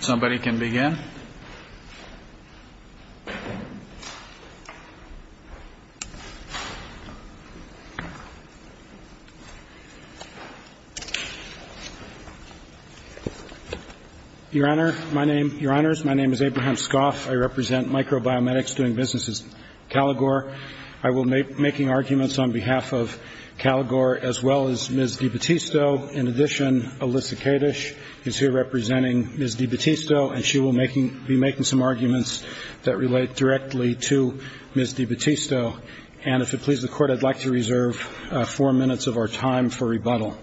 Somebody can begin. Your Honor, my name, Your Honors, my name is Abraham Scoff. I represent Micro-Bio-Medics doing business in Caligore. I will be making arguments on behalf of Caligore as well as Ms. DiBattisto. In addition, Alyssa Kadish is here representing Ms. DiBattisto and she will be making some arguments that relate directly to Ms. DiBattisto. And if it pleases the Court, I'd like to reserve four minutes of our time for rebuttal.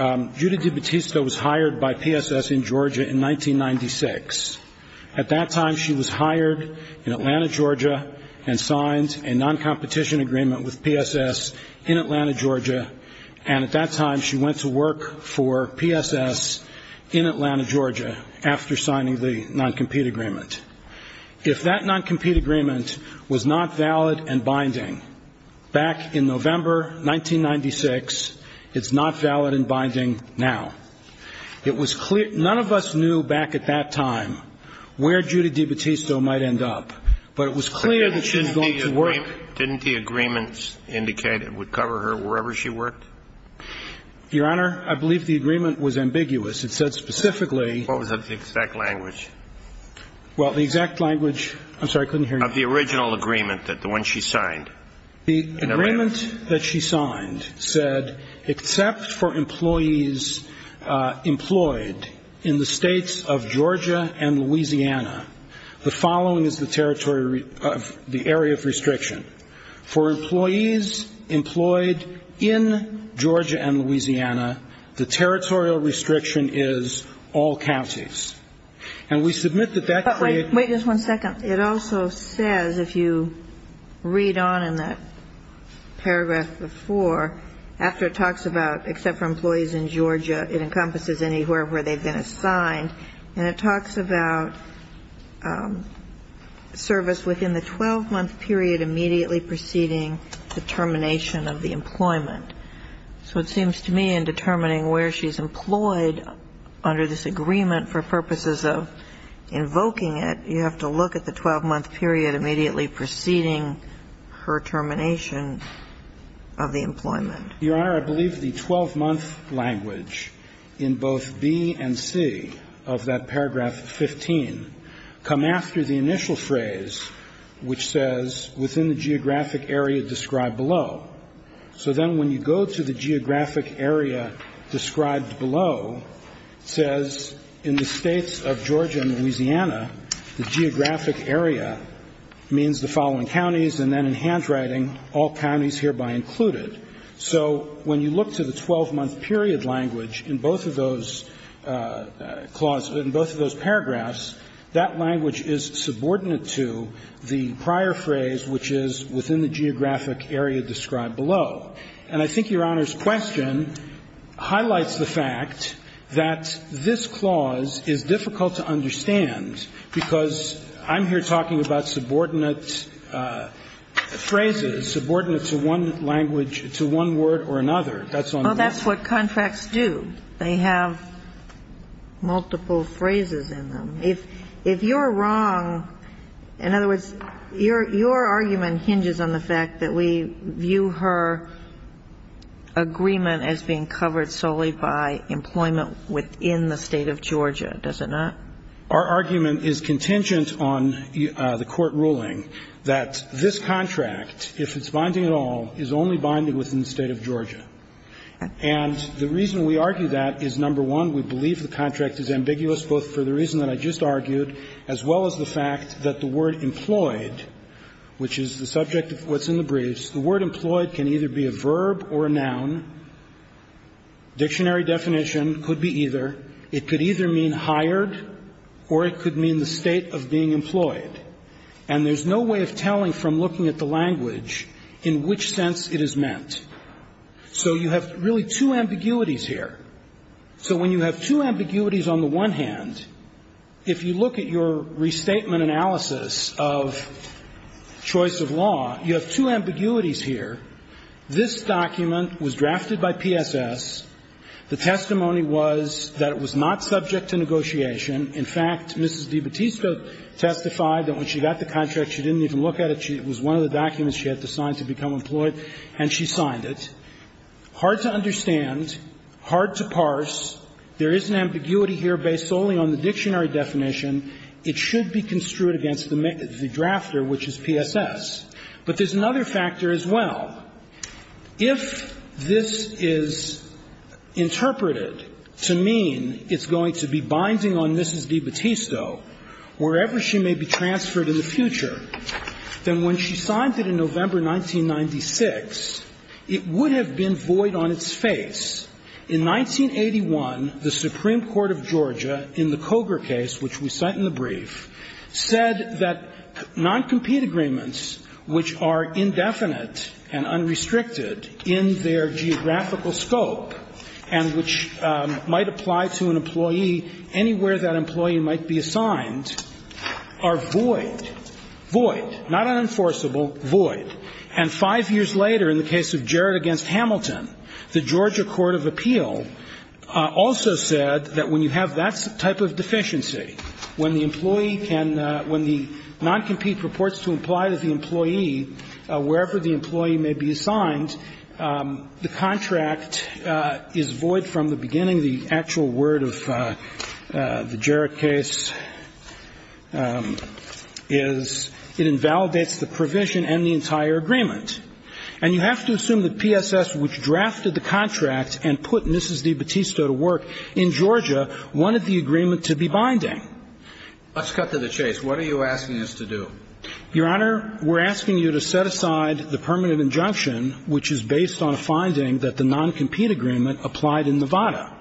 Judy DiBattisto was hired by PSS in Georgia in 1996. At that time, she was hired in Atlanta, Georgia and signed a non-competition agreement with PSS in Atlanta, Georgia. And at that time, she went to work for PSS in Atlanta, Georgia after signing the non-compete agreement. If that non-compete agreement was not valid and binding back in November 1996, it's not valid and binding now. It was clear, none of us knew back at that time where Judy DiBattisto might end up, but it was clear that she was going to work. Didn't the agreements indicate it would cover her wherever she worked? Your Honor, I believe the agreement was ambiguous. It said specifically What was the exact language? Well, the exact language, I'm sorry, I couldn't hear you. Of the original agreement, the one she signed. The agreement that she signed said, except for employees employed in the states of Georgia and Louisiana, the following is the territory, the area of restriction. For employees employed in Georgia and Louisiana, the territorial restriction is all counties. And we submit that that creates Wait just one second. It also says, if you read on in that paragraph before, after it talks about except for employees in Georgia, it encompasses anywhere where they've been assigned, and it talks about service within the 12-month period immediately preceding the termination of the employment. So it seems to me in determining where she's employed under this agreement for purposes of invoking it, you have to look at the 12-month period immediately preceding her termination of the employment. Your Honor, I believe the 12-month language in both B and C of that paragraph 15 come after the initial phrase which says within the geographic area described below. So then when you go to the geographic area described below, it says in the states of Georgia and Louisiana, the geographic area means the following counties and then in handwriting, all counties hereby included. So when you look to the 12-month period language in both of those clauses, in both of those paragraphs, that language is subordinate to the prior phrase which is within the geographic area described below. And I think Your Honor's question highlights the fact that this clause is difficult to understand because I'm here talking about subordinate phrases, subordinate to one language, to one word or another. That's all I'm saying. Well, that's what contracts do. They have multiple phrases in them. If you're wrong In other words, your argument hinges on the fact that we view her agreement as being covered solely by employment within the State of Georgia, does it not? Our argument is contingent on the court ruling that this contract, if it's binding at all, is only binding within the State of Georgia. And the reason we argue that is, number one, we believe the contract is ambiguous both for the reason that I just argued as well as the fact that the word employed, which is the subject of what's in the briefs, the word employed can either be a verb or a noun. Dictionary definition could be either. It could either mean hired or it could mean the state of being employed. And there's no way of telling from looking at the language in which sense it is meant. So you have really two ambiguities here. So when you have two ambiguities on the one hand, if you look at your restatement analysis of choice of law, you have two ambiguities here. This document was drafted by PSS. The testimony was that it was not subject to negotiation. In fact, Mrs. DiBattista testified that when she got the contract, she didn't even look at it. It was one of the documents she had to sign to become employed, and she signed it. Hard to understand, hard to parse. There is an ambiguity here based solely on the dictionary definition. It should be construed against the drafter, which is PSS. But there's another factor as well. If this is interpreted to mean it's going to be binding on Mrs. DiBattista wherever she may be transferred in the future, then when she signed it in November 1996, it would have been void on its face. In 1981, the Supreme Court of Georgia in the Cogar case, which we cite in the brief, said that noncompete agreements, which are indefinite and unrestricted in their geographical scope and which might apply to an employee anywhere that employee might be assigned, are void. Void. Not unenforceable. Void. And five years later, in the case of Jarrett v. Hamilton, the Georgia court of appeal also said that when you have that type of deficiency, when the employee can – when the noncompete purports to imply that the employee, wherever the employee may be assigned, the contract is void from the beginning. The actual word of the Jarrett case is it invalidates the provision and the entire agreement. And you have to assume that PSS, which drafted the contract and put Mrs. DiBattista to work in Georgia, wanted the agreement to be binding. Let's cut to the chase. What are you asking us to do? Your Honor, we're asking you to set aside the permanent injunction, which is based on a finding that the noncompete agreement applied in Nevada,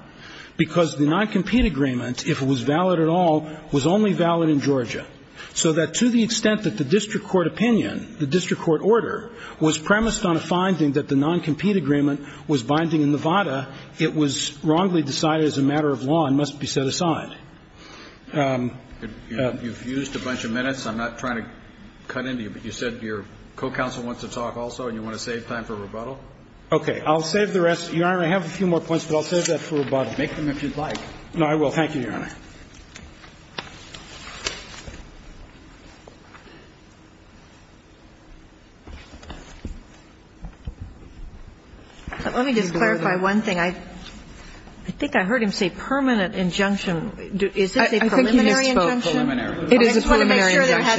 because the noncompete agreement, if it was valid at all, was only valid in Georgia. So that to the extent that the district court opinion, the district court order, was premised on a finding that the noncompete agreement was binding in Nevada, it was wrongly decided as a matter of law and must be set aside. You've used a bunch of minutes. I'm not trying to cut into you, but you said your co-counsel wants to talk also and you want to save time for rebuttal? Okay. I'll save the rest. Your Honor, I have a few more points, but I'll save that for rebuttal. Make them if you'd like. No, I will. Thank you, Your Honor. Let me just clarify one thing. I think I heard him say permanent injunction. Is this a preliminary injunction? I think you misspoke. Preliminary. It is a preliminary injunction. I just wanted to make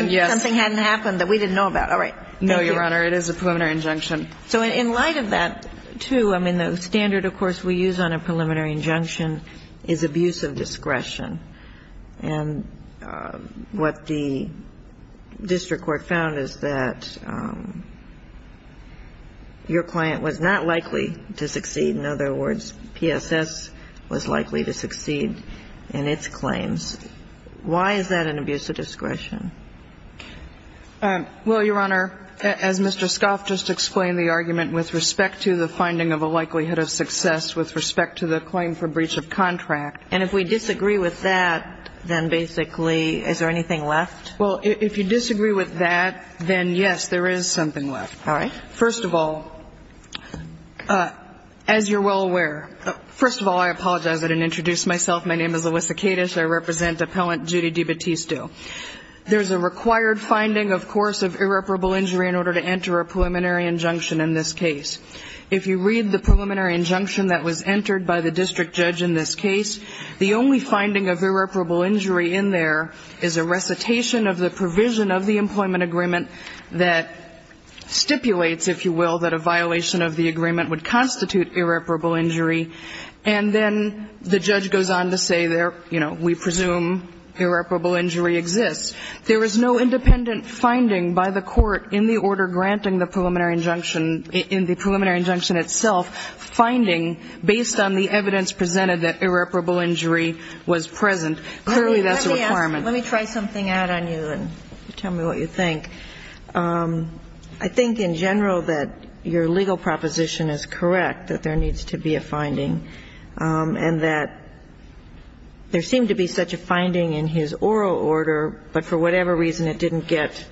sure that something hadn't happened that we didn't know about. All right. Thank you. No, Your Honor. It is a preliminary injunction. So in light of that, too, I mean, the standard, of course, we use on a preliminary injunction is abuse of discretion. And what the district court found is that your client was not likely to succeed. In other words, PSS was likely to succeed in its claims. Why is that an abuse of discretion? Well, Your Honor, as Mr. Scoff just explained, the argument with respect to the finding of a likelihood of success with respect to the claim for breach of contract. And if we disagree with that, then basically is there anything left? Well, if you disagree with that, then, yes, there is something left. All right. First of all, as you're well aware, first of all, I apologize. I didn't introduce myself. My name is Elissa Kadish. I represent Appellant Judy DiBattisto. There's a required finding, of course, of irreparable injury in order to enter a preliminary injunction in this case. If you read the preliminary injunction that was entered by the district judge in this case, the only finding of irreparable injury in there is a recitation of the provision of the employment agreement that stipulates, if you will, that a violation of the agreement would constitute irreparable injury. And then the judge goes on to say, you know, we presume irreparable injury exists. There is no independent finding by the court in the order granting the preliminary injunction, in the preliminary injunction itself, finding based on the evidence presented that irreparable injury was present. Clearly, that's a requirement. Let me try something out on you and tell me what you think. I think in general that your legal proposition is correct, that there needs to be a finding, and that there seemed to be such a finding in his oral order, but for whatever reason it didn't get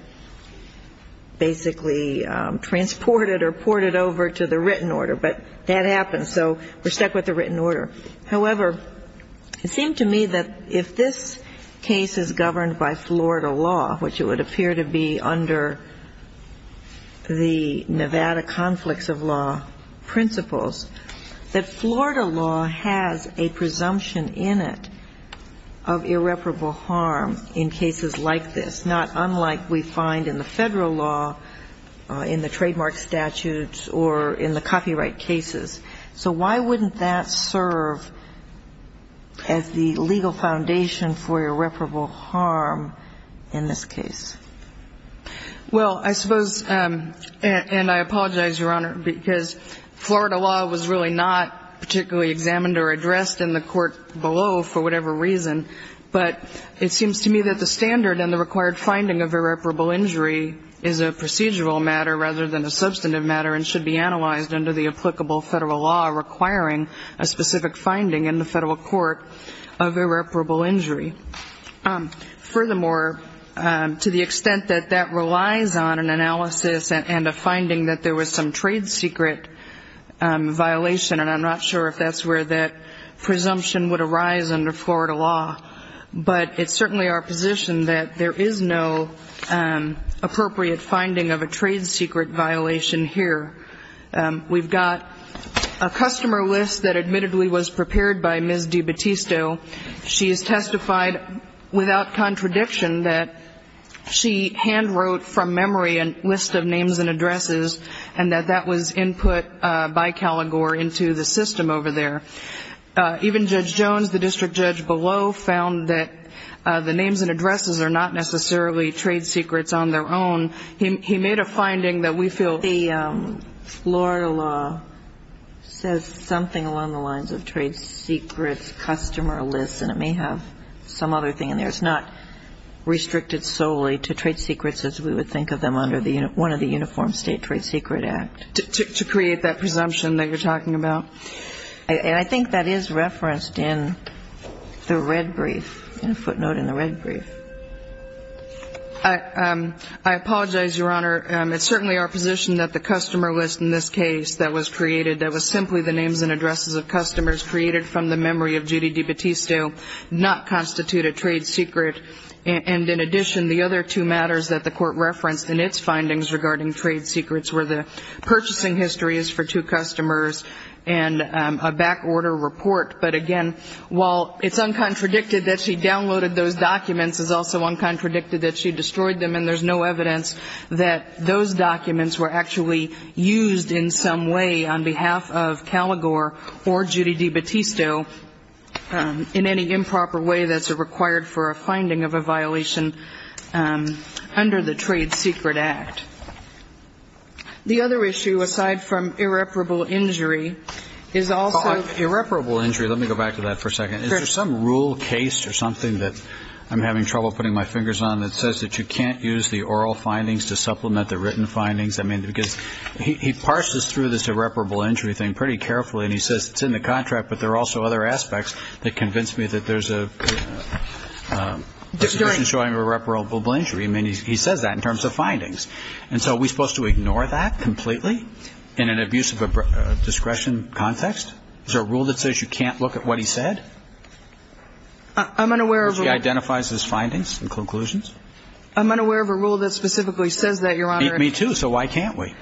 basically transported or ported over to the written order. But that happened, so we're stuck with the written order. However, it seemed to me that if this case is governed by Florida law, which it would appear to be under the Nevada conflicts of law principles, that Florida law has a presumption in it of irreparable harm in cases like this, not unlike we find in the federal law, in the trademark statutes, or in the copyright cases. So why wouldn't that serve as the legal foundation for irreparable harm in this case? Well, I suppose, and I apologize, Your Honor, because Florida law was really not particularly examined or addressed in the court below for whatever reason, but it seems to me that the standard and the required finding of irreparable injury is a procedural matter rather than a substantive matter and should be analyzed under the applicable federal law requiring a specific finding in the federal court of irreparable injury. Furthermore, to the extent that that relies on an analysis and a finding that there was some trade secret violation, and I'm not sure if that's where that presumption would arise under Florida law, but it's certainly our position that there is no appropriate finding of a trade secret violation here. We've got a customer list that admittedly was prepared by Ms. DiBattisto. She has testified without contradiction that she handwrote from memory a list of names and addresses, and that that was input by Caligore into the system over there. Even Judge Jones, the district judge below, found that the names and addresses are not necessarily trade secrets on their own. He made a finding that we feel the Florida law says something along the lines of trade secrets, customer lists, and it may have some other thing in there. It's not restricted solely to trade secrets as we would think of them under one of the Uniform State Trade Secret Act. To create that presumption that you're talking about. And I think that is referenced in the red brief, footnote in the red brief. I apologize, Your Honor. It's certainly our position that the customer list in this case that was created, that was simply the names and addresses of customers created from the memory of Judy DiBattisto, not constitute a trade secret, and in addition, the other two matters that the Court referenced in its findings regarding trade secrets were the purchasing histories for two customers and a backorder report. But again, while it's uncontradicted that she downloaded those documents, it's also uncontradicted that she destroyed them, and there's no evidence that those documents were actually used in some way on behalf of Caligore or Judy DiBattisto in any improper way that's required for a finding of a violation under the Trade Secret Act. The other issue, aside from irreparable injury, is also. Irreparable injury, let me go back to that for a second. Is there some rule case or something that I'm having trouble putting my fingers on that says that you can't use the oral findings to supplement the written findings? I mean, because he parses through this irreparable injury thing pretty carefully, and he says it's in the contract, but there are also other aspects that convince me that there's a condition showing irreparable injury. I mean, he says that in terms of findings. And so are we supposed to ignore that completely in an abuse of discretion context? Is there a rule that says you can't look at what he said? I'm unaware of a rule. If he identifies his findings and conclusions? I'm unaware of a rule that specifically says that, Your Honor. Me, too. So why can't we?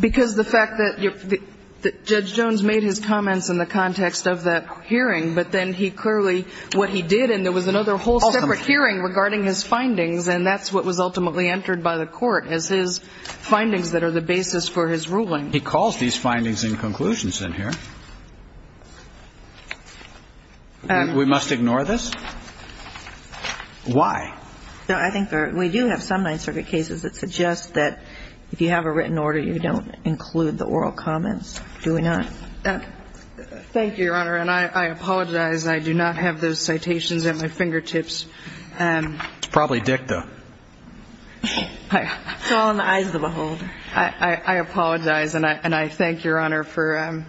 Because the fact that Judge Jones made his comments in the context of that hearing, but then he clearly, what he did, and there was another whole separate hearing regarding his findings, and that's what was ultimately entered by the Court as his findings that are the basis for his ruling. He calls these findings and conclusions in here. We must ignore this? Why? I think we do have some Ninth Circuit cases that suggest that if you have a written order, you don't include the oral comments. Do we not? Thank you, Your Honor. And I apologize. I do not have those citations at my fingertips. It's probably dicta. It's all in the eyes of the behold. I apologize, and I thank Your Honor for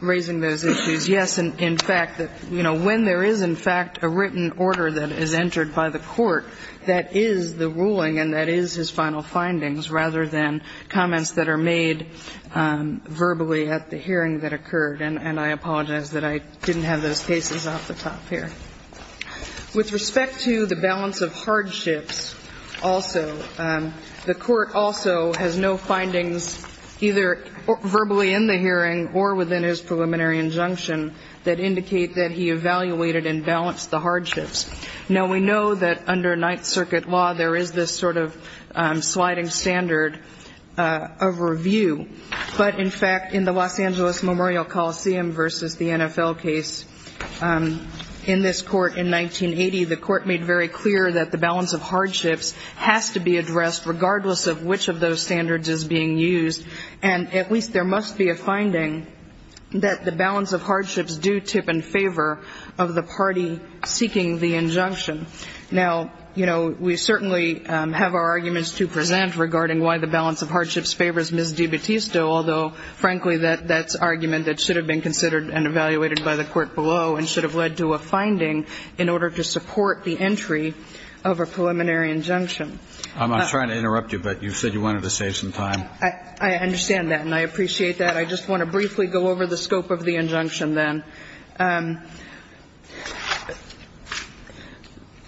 raising those issues. Yes, in fact, you know, when there is, in fact, a written order that is entered by the Court that is the ruling and that is his final findings rather than comments that are made verbally at the hearing that occurred. And I apologize that I didn't have those cases off the top here. With respect to the balance of hardships also, the Court also has no findings either verbally in the hearing or within his preliminary injunction that indicate that he evaluated and balanced the hardships. Now, we know that under Ninth Circuit law there is this sort of sliding standard of review, but, in fact, in the Los Angeles Memorial Coliseum versus the NFL case, in this Court in 1980, the Court made very clear that the balance of hardships has to be addressed regardless of which of those standards is being used, and at least there must be a finding that the balance of hardships do tip in favor of the party seeking the injunction. Now, you know, we certainly have our arguments to present regarding why the balance of hardships favors Ms. DiBattista, although, frankly, that's argument that should have been considered and evaluated by the Court below and should have led to a finding in order to support the entry of a preliminary injunction. I'm sorry to interrupt you, but you said you wanted to save some time. I understand that, and I appreciate that. I just want to briefly go over the scope of the injunction then.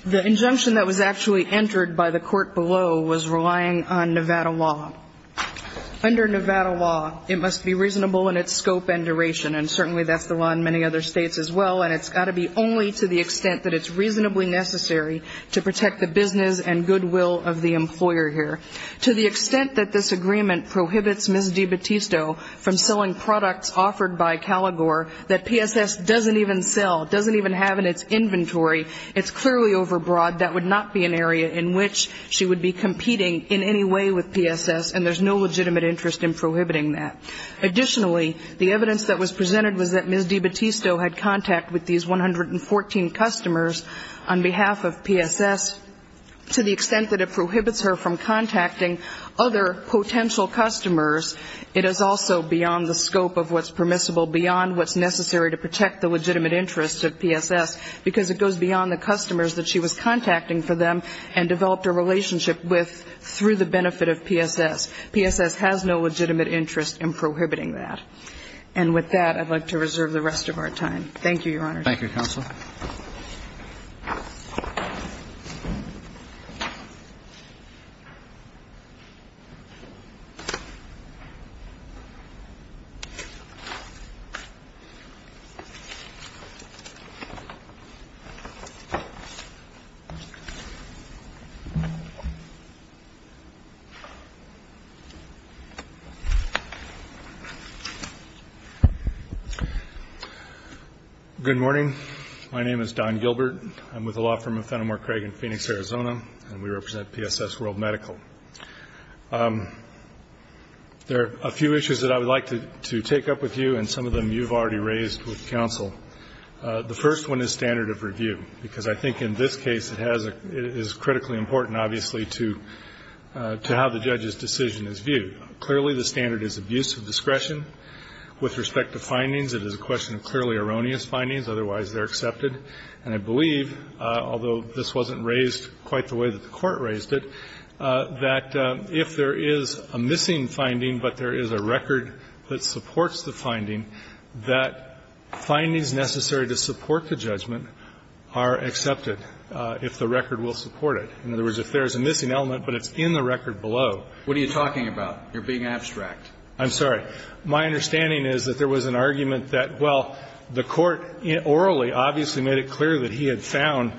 The injunction that was actually entered by the Court below was relying on Nevada law. Under Nevada law, it must be reasonable in its scope and duration, and certainly that's the law in many other states as well, and it's got to be only to the extent that it's reasonably necessary to protect the business and goodwill of the employer here. To the extent that this agreement prohibits Ms. DiBattista from selling products offered by Caligore that PSS doesn't even sell, doesn't even have in its inventory, it's clearly overbroad. That would not be an area in which she would be competing in any way with PSS, and there's no legitimate interest in prohibiting that. Additionally, the evidence that was presented was that Ms. DiBattista had contact with these 114 customers on behalf of PSS. To the extent that it prohibits her from contacting other potential customers, it is also beyond the scope of what's permissible, beyond what's necessary to protect the legitimate interest of PSS, because it goes beyond the customers that she was contacting for them and developed a relationship with through the benefit of PSS. PSS has no legitimate interest in prohibiting that. And with that, I'd like to reserve the rest of our time. Thank you, Your Honor. Thank you, counsel. Good morning. My name is Don Gilbert. I'm with the law firm of Fenimore Craig in Phoenix, Arizona, and we represent PSS World Medical. There are a few issues that I would like to take up with you, and some of them you've already raised with counsel. The first one is standard of review, because I think in this case it is critically important, obviously, Clearly, the standard is abuse of discretion. With respect to findings, it is a question of clearly erroneous findings. Otherwise, they're accepted. And I believe, although this wasn't raised quite the way that the Court raised it, that if there is a missing finding but there is a record that supports the finding, that findings necessary to support the judgment are accepted, if the record will support it. In other words, if there is a missing element but it's in the record below. What are you talking about? You're being abstract. I'm sorry. My understanding is that there was an argument that, well, the Court orally obviously made it clear that he had found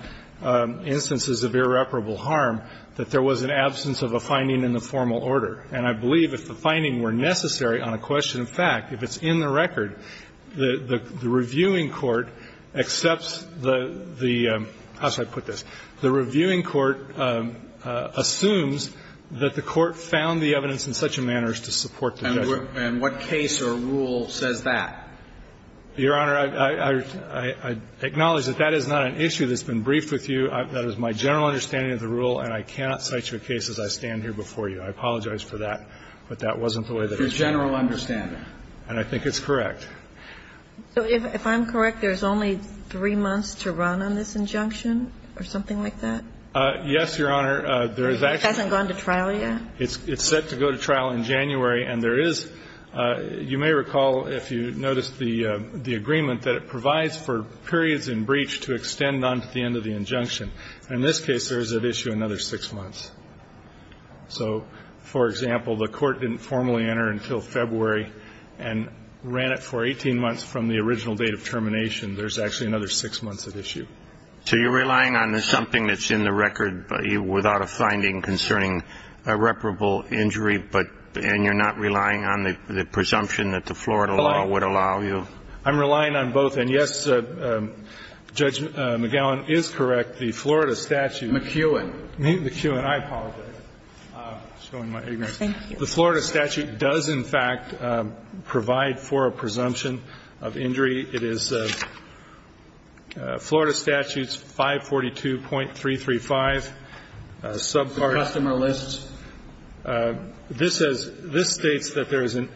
instances of irreparable harm, that there was an absence of a finding in the formal order. And I believe if the findings were necessary on a question of fact, if it's in the record, the reviewing court accepts the – how should I put this? The reviewing court assumes that the Court found the evidence in such a manner as to support the judgment. If the findings are necessary, then the Court will support the judgment. And the question is, what case or rule says that? Your Honor, I acknowledge that that is not an issue that's been briefed with you. That is my general understanding of the rule, and I cannot cite you a case as I stand here before you. I apologize for that. But that wasn't the way that it was. It's your general understanding. And I think it's correct. So if I'm correct, there's only three months to run on this injunction, or something like that? Yes, Your Honor. It hasn't gone to trial yet? It's set to go to trial in January. And there is – you may recall, if you noticed the agreement, that it provides for periods in breach to extend on to the end of the injunction. In this case, there is at issue another six months. So, for example, the Court didn't formally enter until February and ran it for 18 months from the original date of termination. There's actually another six months at issue. So you're relying on something that's in the record without a finding concerning a reparable injury, but – and you're not relying on the presumption that the Florida law would allow you? I'm relying on both. And, yes, Judge McGowan is correct. The Florida statute – McEwen. McEwen. I apologize. I'm showing my ignorance. Thank you. The Florida statute does, in fact, provide for a presumption of injury. It is Florida Statutes 542.335, subparts. Customer lists. This says – this states that there is a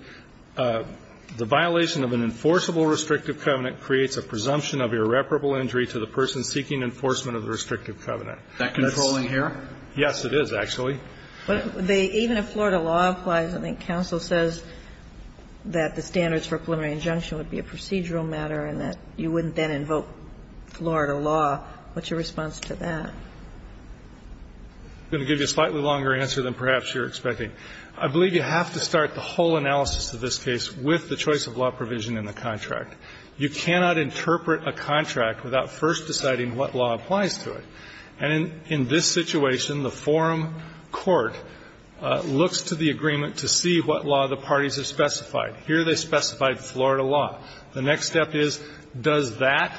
– the violation of an enforceable restrictive covenant creates a presumption of irreparable injury to the person seeking enforcement of the restrictive covenant. Is that controlling here? Yes, it is, actually. But they – even if Florida law applies, I think counsel says that the standards for preliminary injunction would be a procedural matter and that you wouldn't then invoke Florida law. What's your response to that? I'm going to give you a slightly longer answer than perhaps you're expecting. I believe you have to start the whole analysis of this case with the choice of law provision in the contract. You cannot interpret a contract without first deciding what law applies to it. And in this situation, the forum court looks to the agreement to see what law the parties have specified. Here they specified Florida law. The next step is, does that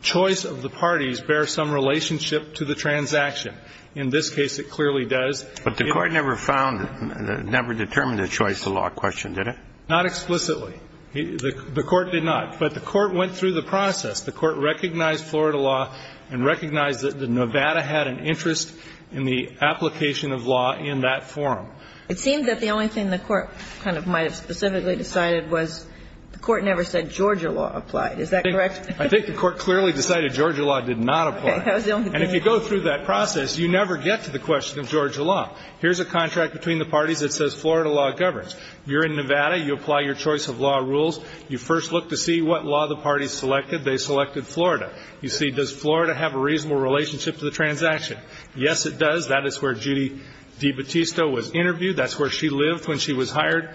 choice of the parties bear some relationship to the transaction? In this case, it clearly does. But the court never found – never determined the choice of law question, did it? Not explicitly. The court did not. But the court went through the process. The court recognized Florida law and recognized that Nevada had an interest in the application of law in that forum. It seems that the only thing the court kind of might have specifically decided was the court never said Georgia law applied. Is that correct? I think the court clearly decided Georgia law did not apply. And if you go through that process, you never get to the question of Georgia law. Here's a contract between the parties that says Florida law governs. You're in Nevada. You apply your choice of law rules. You first look to see what law the parties selected. They selected Florida. You see, does Florida have a reasonable relationship to the transaction? Yes, it does. That is where Judy DiBattista was interviewed. That's where she lived when she was hired.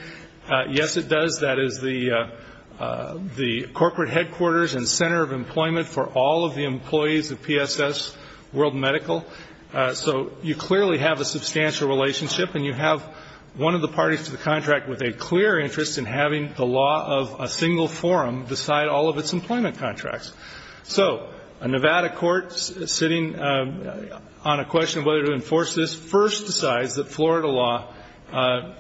Yes, it does. That is the corporate headquarters and center of employment for all of the employees of PSS World Medical. So you clearly have a substantial relationship, and you have one of the parties to the contract with a clear interest in having the law of a single forum decide all of its employment contracts. So a Nevada court sitting on a question of whether to enforce this first decides that Florida law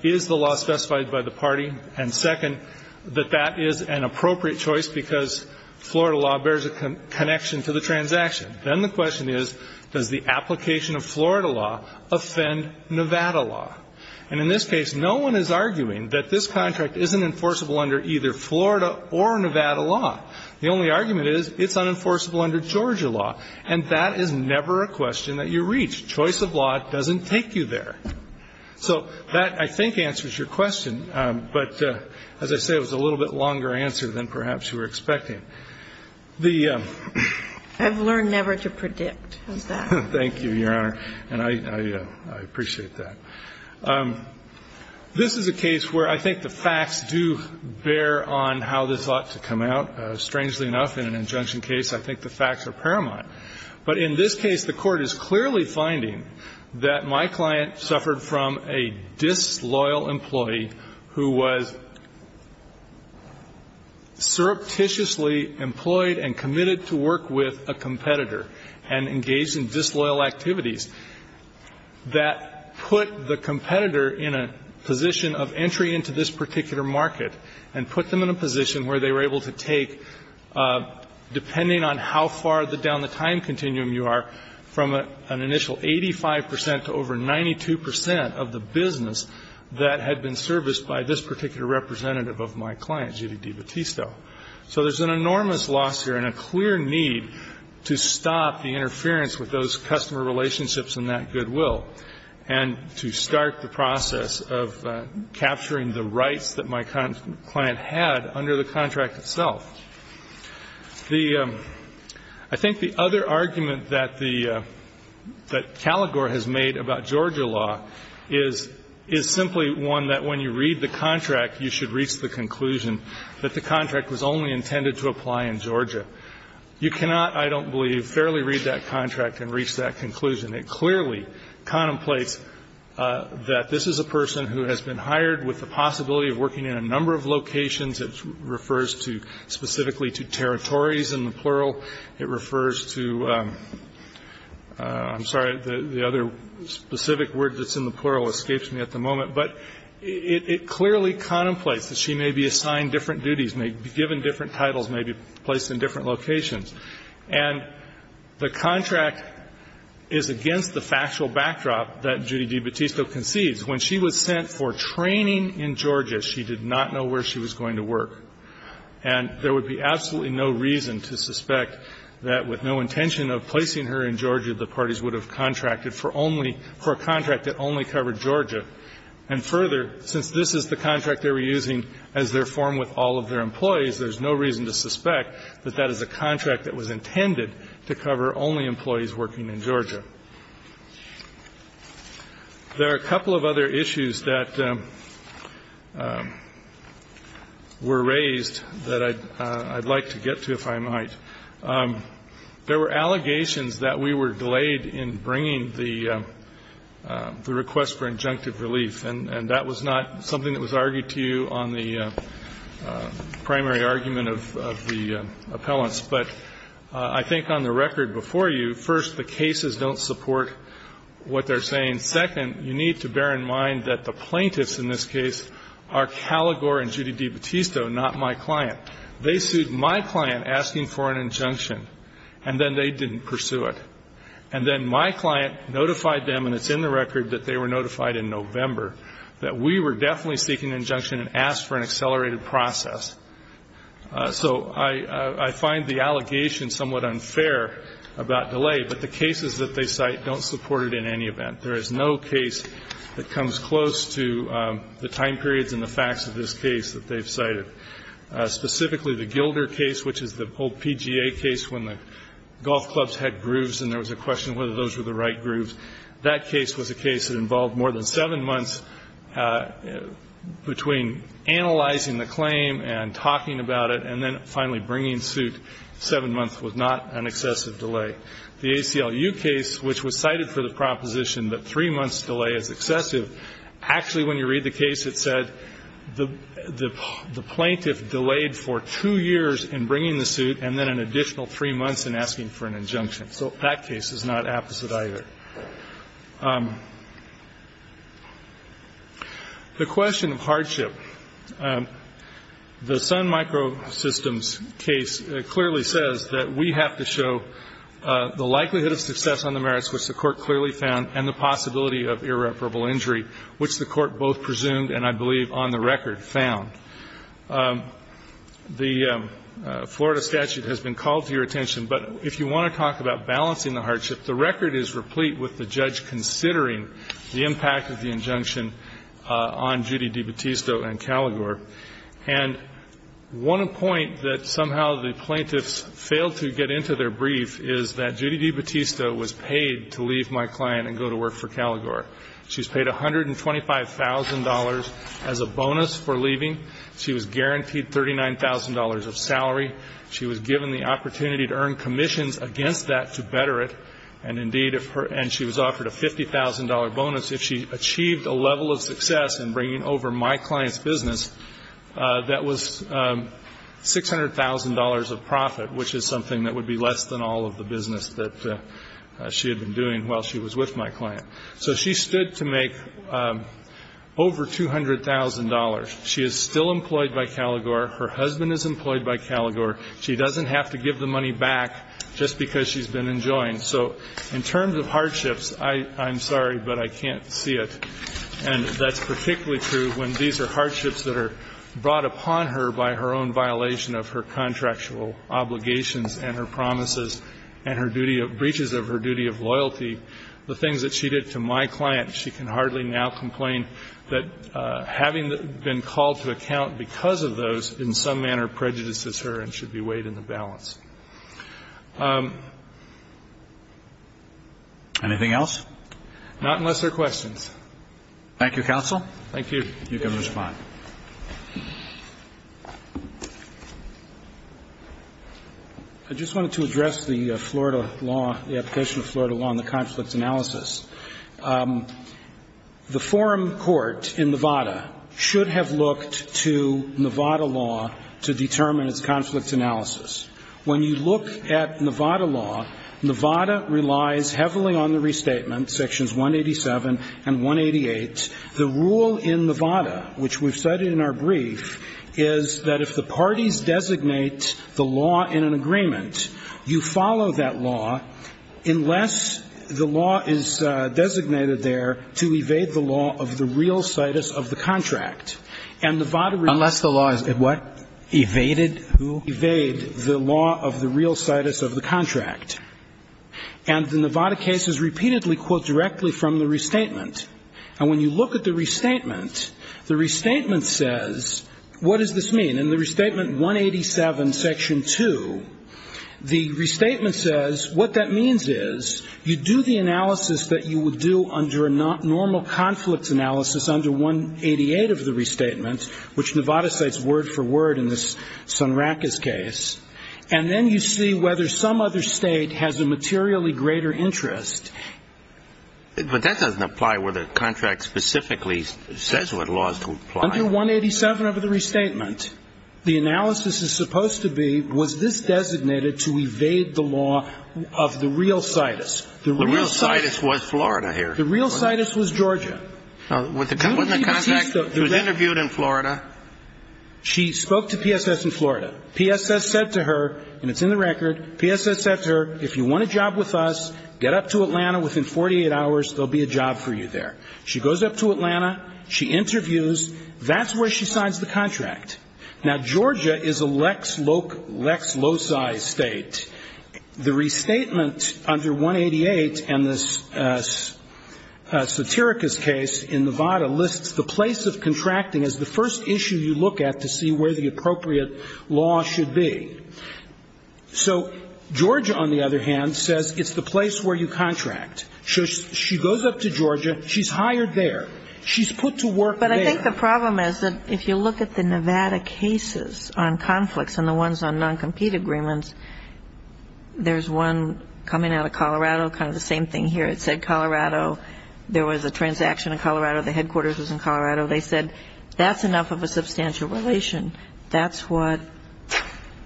is the law specified by the party, and second, that that is an appropriate choice because Florida law bears a connection to the transaction. Then the question is, does the application of Florida law offend Nevada law? And in this case, no one is arguing that this contract isn't enforceable under either Florida or Nevada law. The only argument is it's unenforceable under Georgia law, and that is never a question that you reach. Choice of law doesn't take you there. So that, I think, answers your question, but as I say, it was a little bit longer answer than perhaps you were expecting. The ---- I've learned never to predict. Thank you, Your Honor, and I appreciate that. This is a case where I think the facts do bear on how this ought to come out. Strangely enough, in an injunction case, I think the facts are paramount. But in this case, the Court is clearly finding that my client suffered from a disloyal employee who was surreptitiously employed and committed to work with a competitor and engaged in disloyal activities that put the competitor in a position of entry into this particular market and put them in a position where they were able to take, depending on how far down the time continuum you are, from an initial 85 percent to over 92 percent of the business that had been serviced by this particular representative of my client, Judy DiBattisto. So there's an enormous loss here and a clear need to stop the interference with those customer relationships and that goodwill and to start the process of capturing the rights that my client had under the contract itself. I think the other argument that Caligore has made about Georgia law is simply one that when you read the contract, you should reach the conclusion that the contract was only intended to apply in Georgia. You cannot, I don't believe, fairly read that contract and reach that conclusion. It clearly contemplates that this is a person who has been hired with the possibility of working in a number of locations. It refers specifically to territories in the plural. It refers to, I'm sorry, the other specific word that's in the plural escapes me at the moment. But it clearly contemplates that she may be assigned different duties, may be given different titles, may be placed in different locations. And the contract is against the factual backdrop that Judy DiBattisto concedes. When she was sent for training in Georgia, she did not know where she was going to work. And there would be absolutely no reason to suspect that with no intention of placing her in Georgia, the parties would have contracted for only her contract that only covered Georgia. And further, since this is the contract they were using as their form with all of their intended to cover only employees working in Georgia. There are a couple of other issues that were raised that I'd like to get to, if I might. There were allegations that we were delayed in bringing the request for injunctive relief. And that was not something that was argued to you on the primary argument of the appellants. But I think on the record before you, first, the cases don't support what they're saying. Second, you need to bear in mind that the plaintiffs in this case are Caligore and Judy DiBattisto, not my client. They sued my client asking for an injunction, and then they didn't pursue it. And then my client notified them, and it's in the record that they were notified in November, that we were definitely seeking an injunction and asked for an accelerated process. So I find the allegation somewhat unfair about delay, but the cases that they cite don't support it in any event. There is no case that comes close to the time periods and the facts of this case that they've cited. Specifically, the Gilder case, which is the old PGA case when the golf clubs had grooves and there was a question whether those were the right grooves, that case was a case that involved more than seven months between analyzing the claim and talking about it and then finally bringing suit. Seven months was not an excessive delay. The ACLU case, which was cited for the proposition that three months' delay is excessive, actually, when you read the case, it said the plaintiff delayed for two years in bringing the suit and then an additional three months in asking for an injunction. So that case is not apposite either. The question of hardship. The Sun Microsystems case clearly says that we have to show the likelihood of success on the merits, which the court clearly found, and the possibility of irreparable injury, which the court both presumed and I believe on the record found. The Florida statute has been called to your attention, but if you want to talk about balancing the hardship, the record is replete with the judge considering the impact of the injunction on Judy DiBattista and Caligore. And one point that somehow the plaintiffs failed to get into their brief is that Judy DiBattista was paid to leave my client and go to work for Caligore. She was paid $125,000 as a bonus for leaving. She was guaranteed $39,000 of salary. She was given the opportunity to earn commissions against that to better it. And, indeed, if her end she was offered a $50,000 bonus, if she achieved a level of success in bringing over my client's business, that was $600,000 of profit, which is something that would be less than all of the business that she had been doing while she was with my client. So she stood to make over $200,000. She is still employed by Caligore. Her husband is employed by Caligore. She doesn't have to give the money back just because she's been enjoying. So in terms of hardships, I'm sorry, but I can't see it. And that's particularly true when these are hardships that are brought upon her by her own violation of her contractual obligations and her promises and her duty of breaches of her duty of loyalty. The things that she did to my client, she can hardly now complain that having been called to account because of those in some manner prejudices her and should be weighed in the balance. Anything else? Not unless there are questions. Thank you, counsel. Thank you. You can respond. I just wanted to address the Florida law, the application of Florida law and the conflict analysis. The forum court in Nevada should have looked to Nevada law to determine its conflict analysis. When you look at Nevada law, Nevada relies heavily on the restatement, Sections 187 and 188. The rule in Nevada, which we've cited in our brief, is that if the parties designate the law in an agreement, you follow that law unless the law is designated there to evade the law of the real situs of the contract. And Nevada relies unless the law is what? Evaded? Who? Evade the law of the real situs of the contract. And the Nevada case is repeatedly, quote, directly from the restatement. And when you look at the restatement, the restatement says, what does this mean? In the restatement 187, Section 2, the restatement says what that means is you do the analysis that you would do under a normal conflict analysis under 188 of the restatement, which Nevada cites word for word in this Sunracas case, and then you see whether some other state has a materially greater interest. But that doesn't apply where the contract specifically says what laws to apply. Under 187 of the restatement, the analysis is supposed to be, was this designated to evade the law of the real situs? The real situs was Florida here. The real situs was Georgia. Now, wasn't the contract interviewed in Florida? She spoke to PSS in Florida. PSS said to her, and it's in the record, PSS said to her, if you want a job with us, get up to Atlanta within 48 hours, there will be a job for you there. She goes up to Atlanta. She interviews. That's where she signs the contract. Now, Georgia is a lex loci state. The restatement under 188 and this Satiricus case in Nevada lists the place of contracting as the first issue you look at to see where the appropriate law should be. So Georgia, on the other hand, says it's the place where you contract. So she goes up to Georgia. She's hired there. She's put to work there. But I think the problem is that if you look at the Nevada cases on conflicts and the ones on non-compete agreements, there's one coming out of Colorado, kind of the same thing here. It said Colorado. There was a transaction in Colorado. The headquarters was in Colorado. They said that's enough of a substantial relation. That's what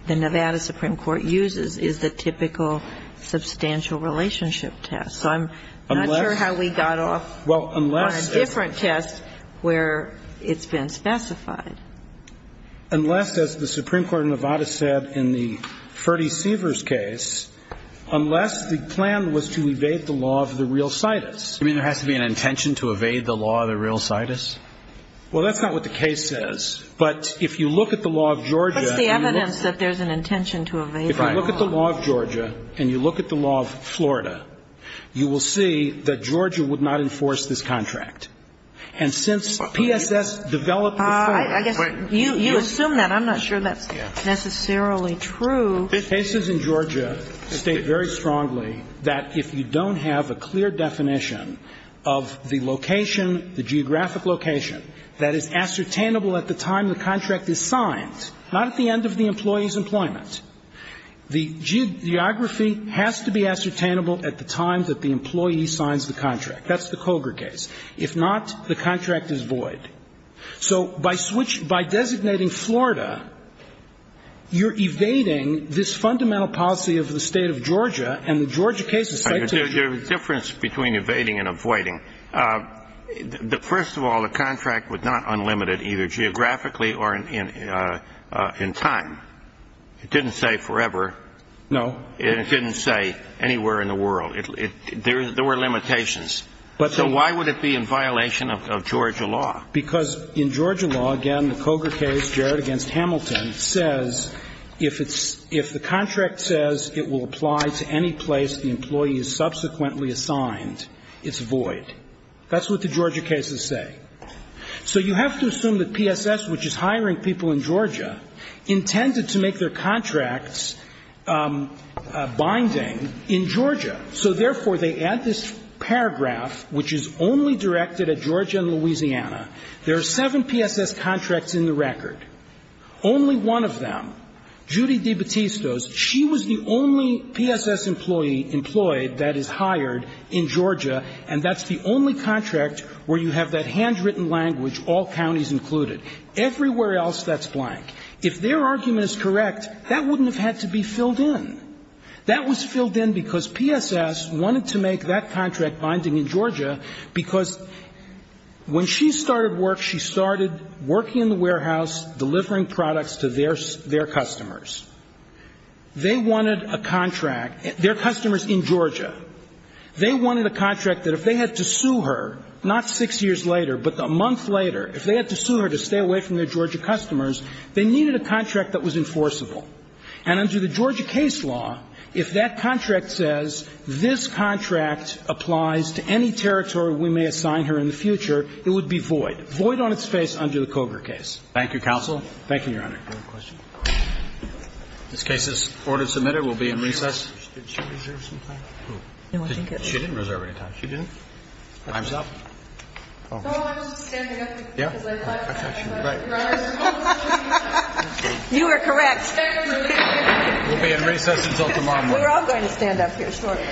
the Nevada Supreme Court uses is the typical substantial relationship test. So I'm not sure how we got off on a different test where it's been specified. Unless, as the Supreme Court in Nevada said in the Ferdie Seavers case, unless the plan was to evade the law of the real situs. You mean there has to be an intention to evade the law of the real situs? Well, that's not what the case says. But if you look at the law of Georgia. What's the evidence that there's an intention to evade the law? If you look at the law of Georgia and you look at the law of Florida, you will see that Georgia would not enforce this contract. And since PSS developed this contract. I guess you assume that. I'm not sure that's necessarily true. The cases in Georgia state very strongly that if you don't have a clear definition of the location, the geographic location, that is ascertainable at the time the contract is signed, not at the end of the employee's employment. The geography has to be ascertainable at the time that the employee signs the contract. That's the Koger case. If not, the contract is void. So by switch by designating Florida, you're evading this fundamental policy of the State of Georgia and the Georgia case is subject to it. There's a difference between evading and avoiding. First of all, the contract was not unlimited either geographically or in time. It didn't say forever. No. And it didn't say anywhere in the world. There were limitations. So why would it be in violation of Georgia law? Because in Georgia law, again, the Koger case, Jarrett v. Hamilton, says if the contract says it will apply to any place the employee is subsequently assigned, it's void. That's what the Georgia cases say. So you have to assume that PSS, which is hiring people in Georgia, intended to make their contracts binding in Georgia. So therefore, they add this paragraph, which is only directed at Georgia and Louisiana. There are seven PSS contracts in the record. Only one of them, Judy DeBattistos, she was the only PSS employee employed that is hired in Georgia, and that's the only contract where you have that handwritten language, all counties included. Everywhere else, that's blank. If their argument is correct, that wouldn't have had to be filled in. That was filled in because PSS wanted to make that contract binding in Georgia because when she started work, she started working in the warehouse, delivering products to their customers. They wanted a contract. Their customer is in Georgia. They wanted a contract that if they had to sue her, not six years later, but a month later, if they had to sue her to stay away from their Georgia customers, they needed a contract that was enforceable. And under the Georgia case law, if that contract says this contract applies to any territory we may assign her in the future, it would be void, void on its face under the Koger case. Thank you, counsel. Thank you, Your Honor. Any other questions? This case is order submitted. We'll be in recess. Did she reserve some time? She didn't reserve any time. She didn't? By herself? No, I was just standing up because I thought I was going to run. You were correct. We'll be in recess until tomorrow morning. We're all going to stand up here shortly. Welcome to the session, ma'am, sir.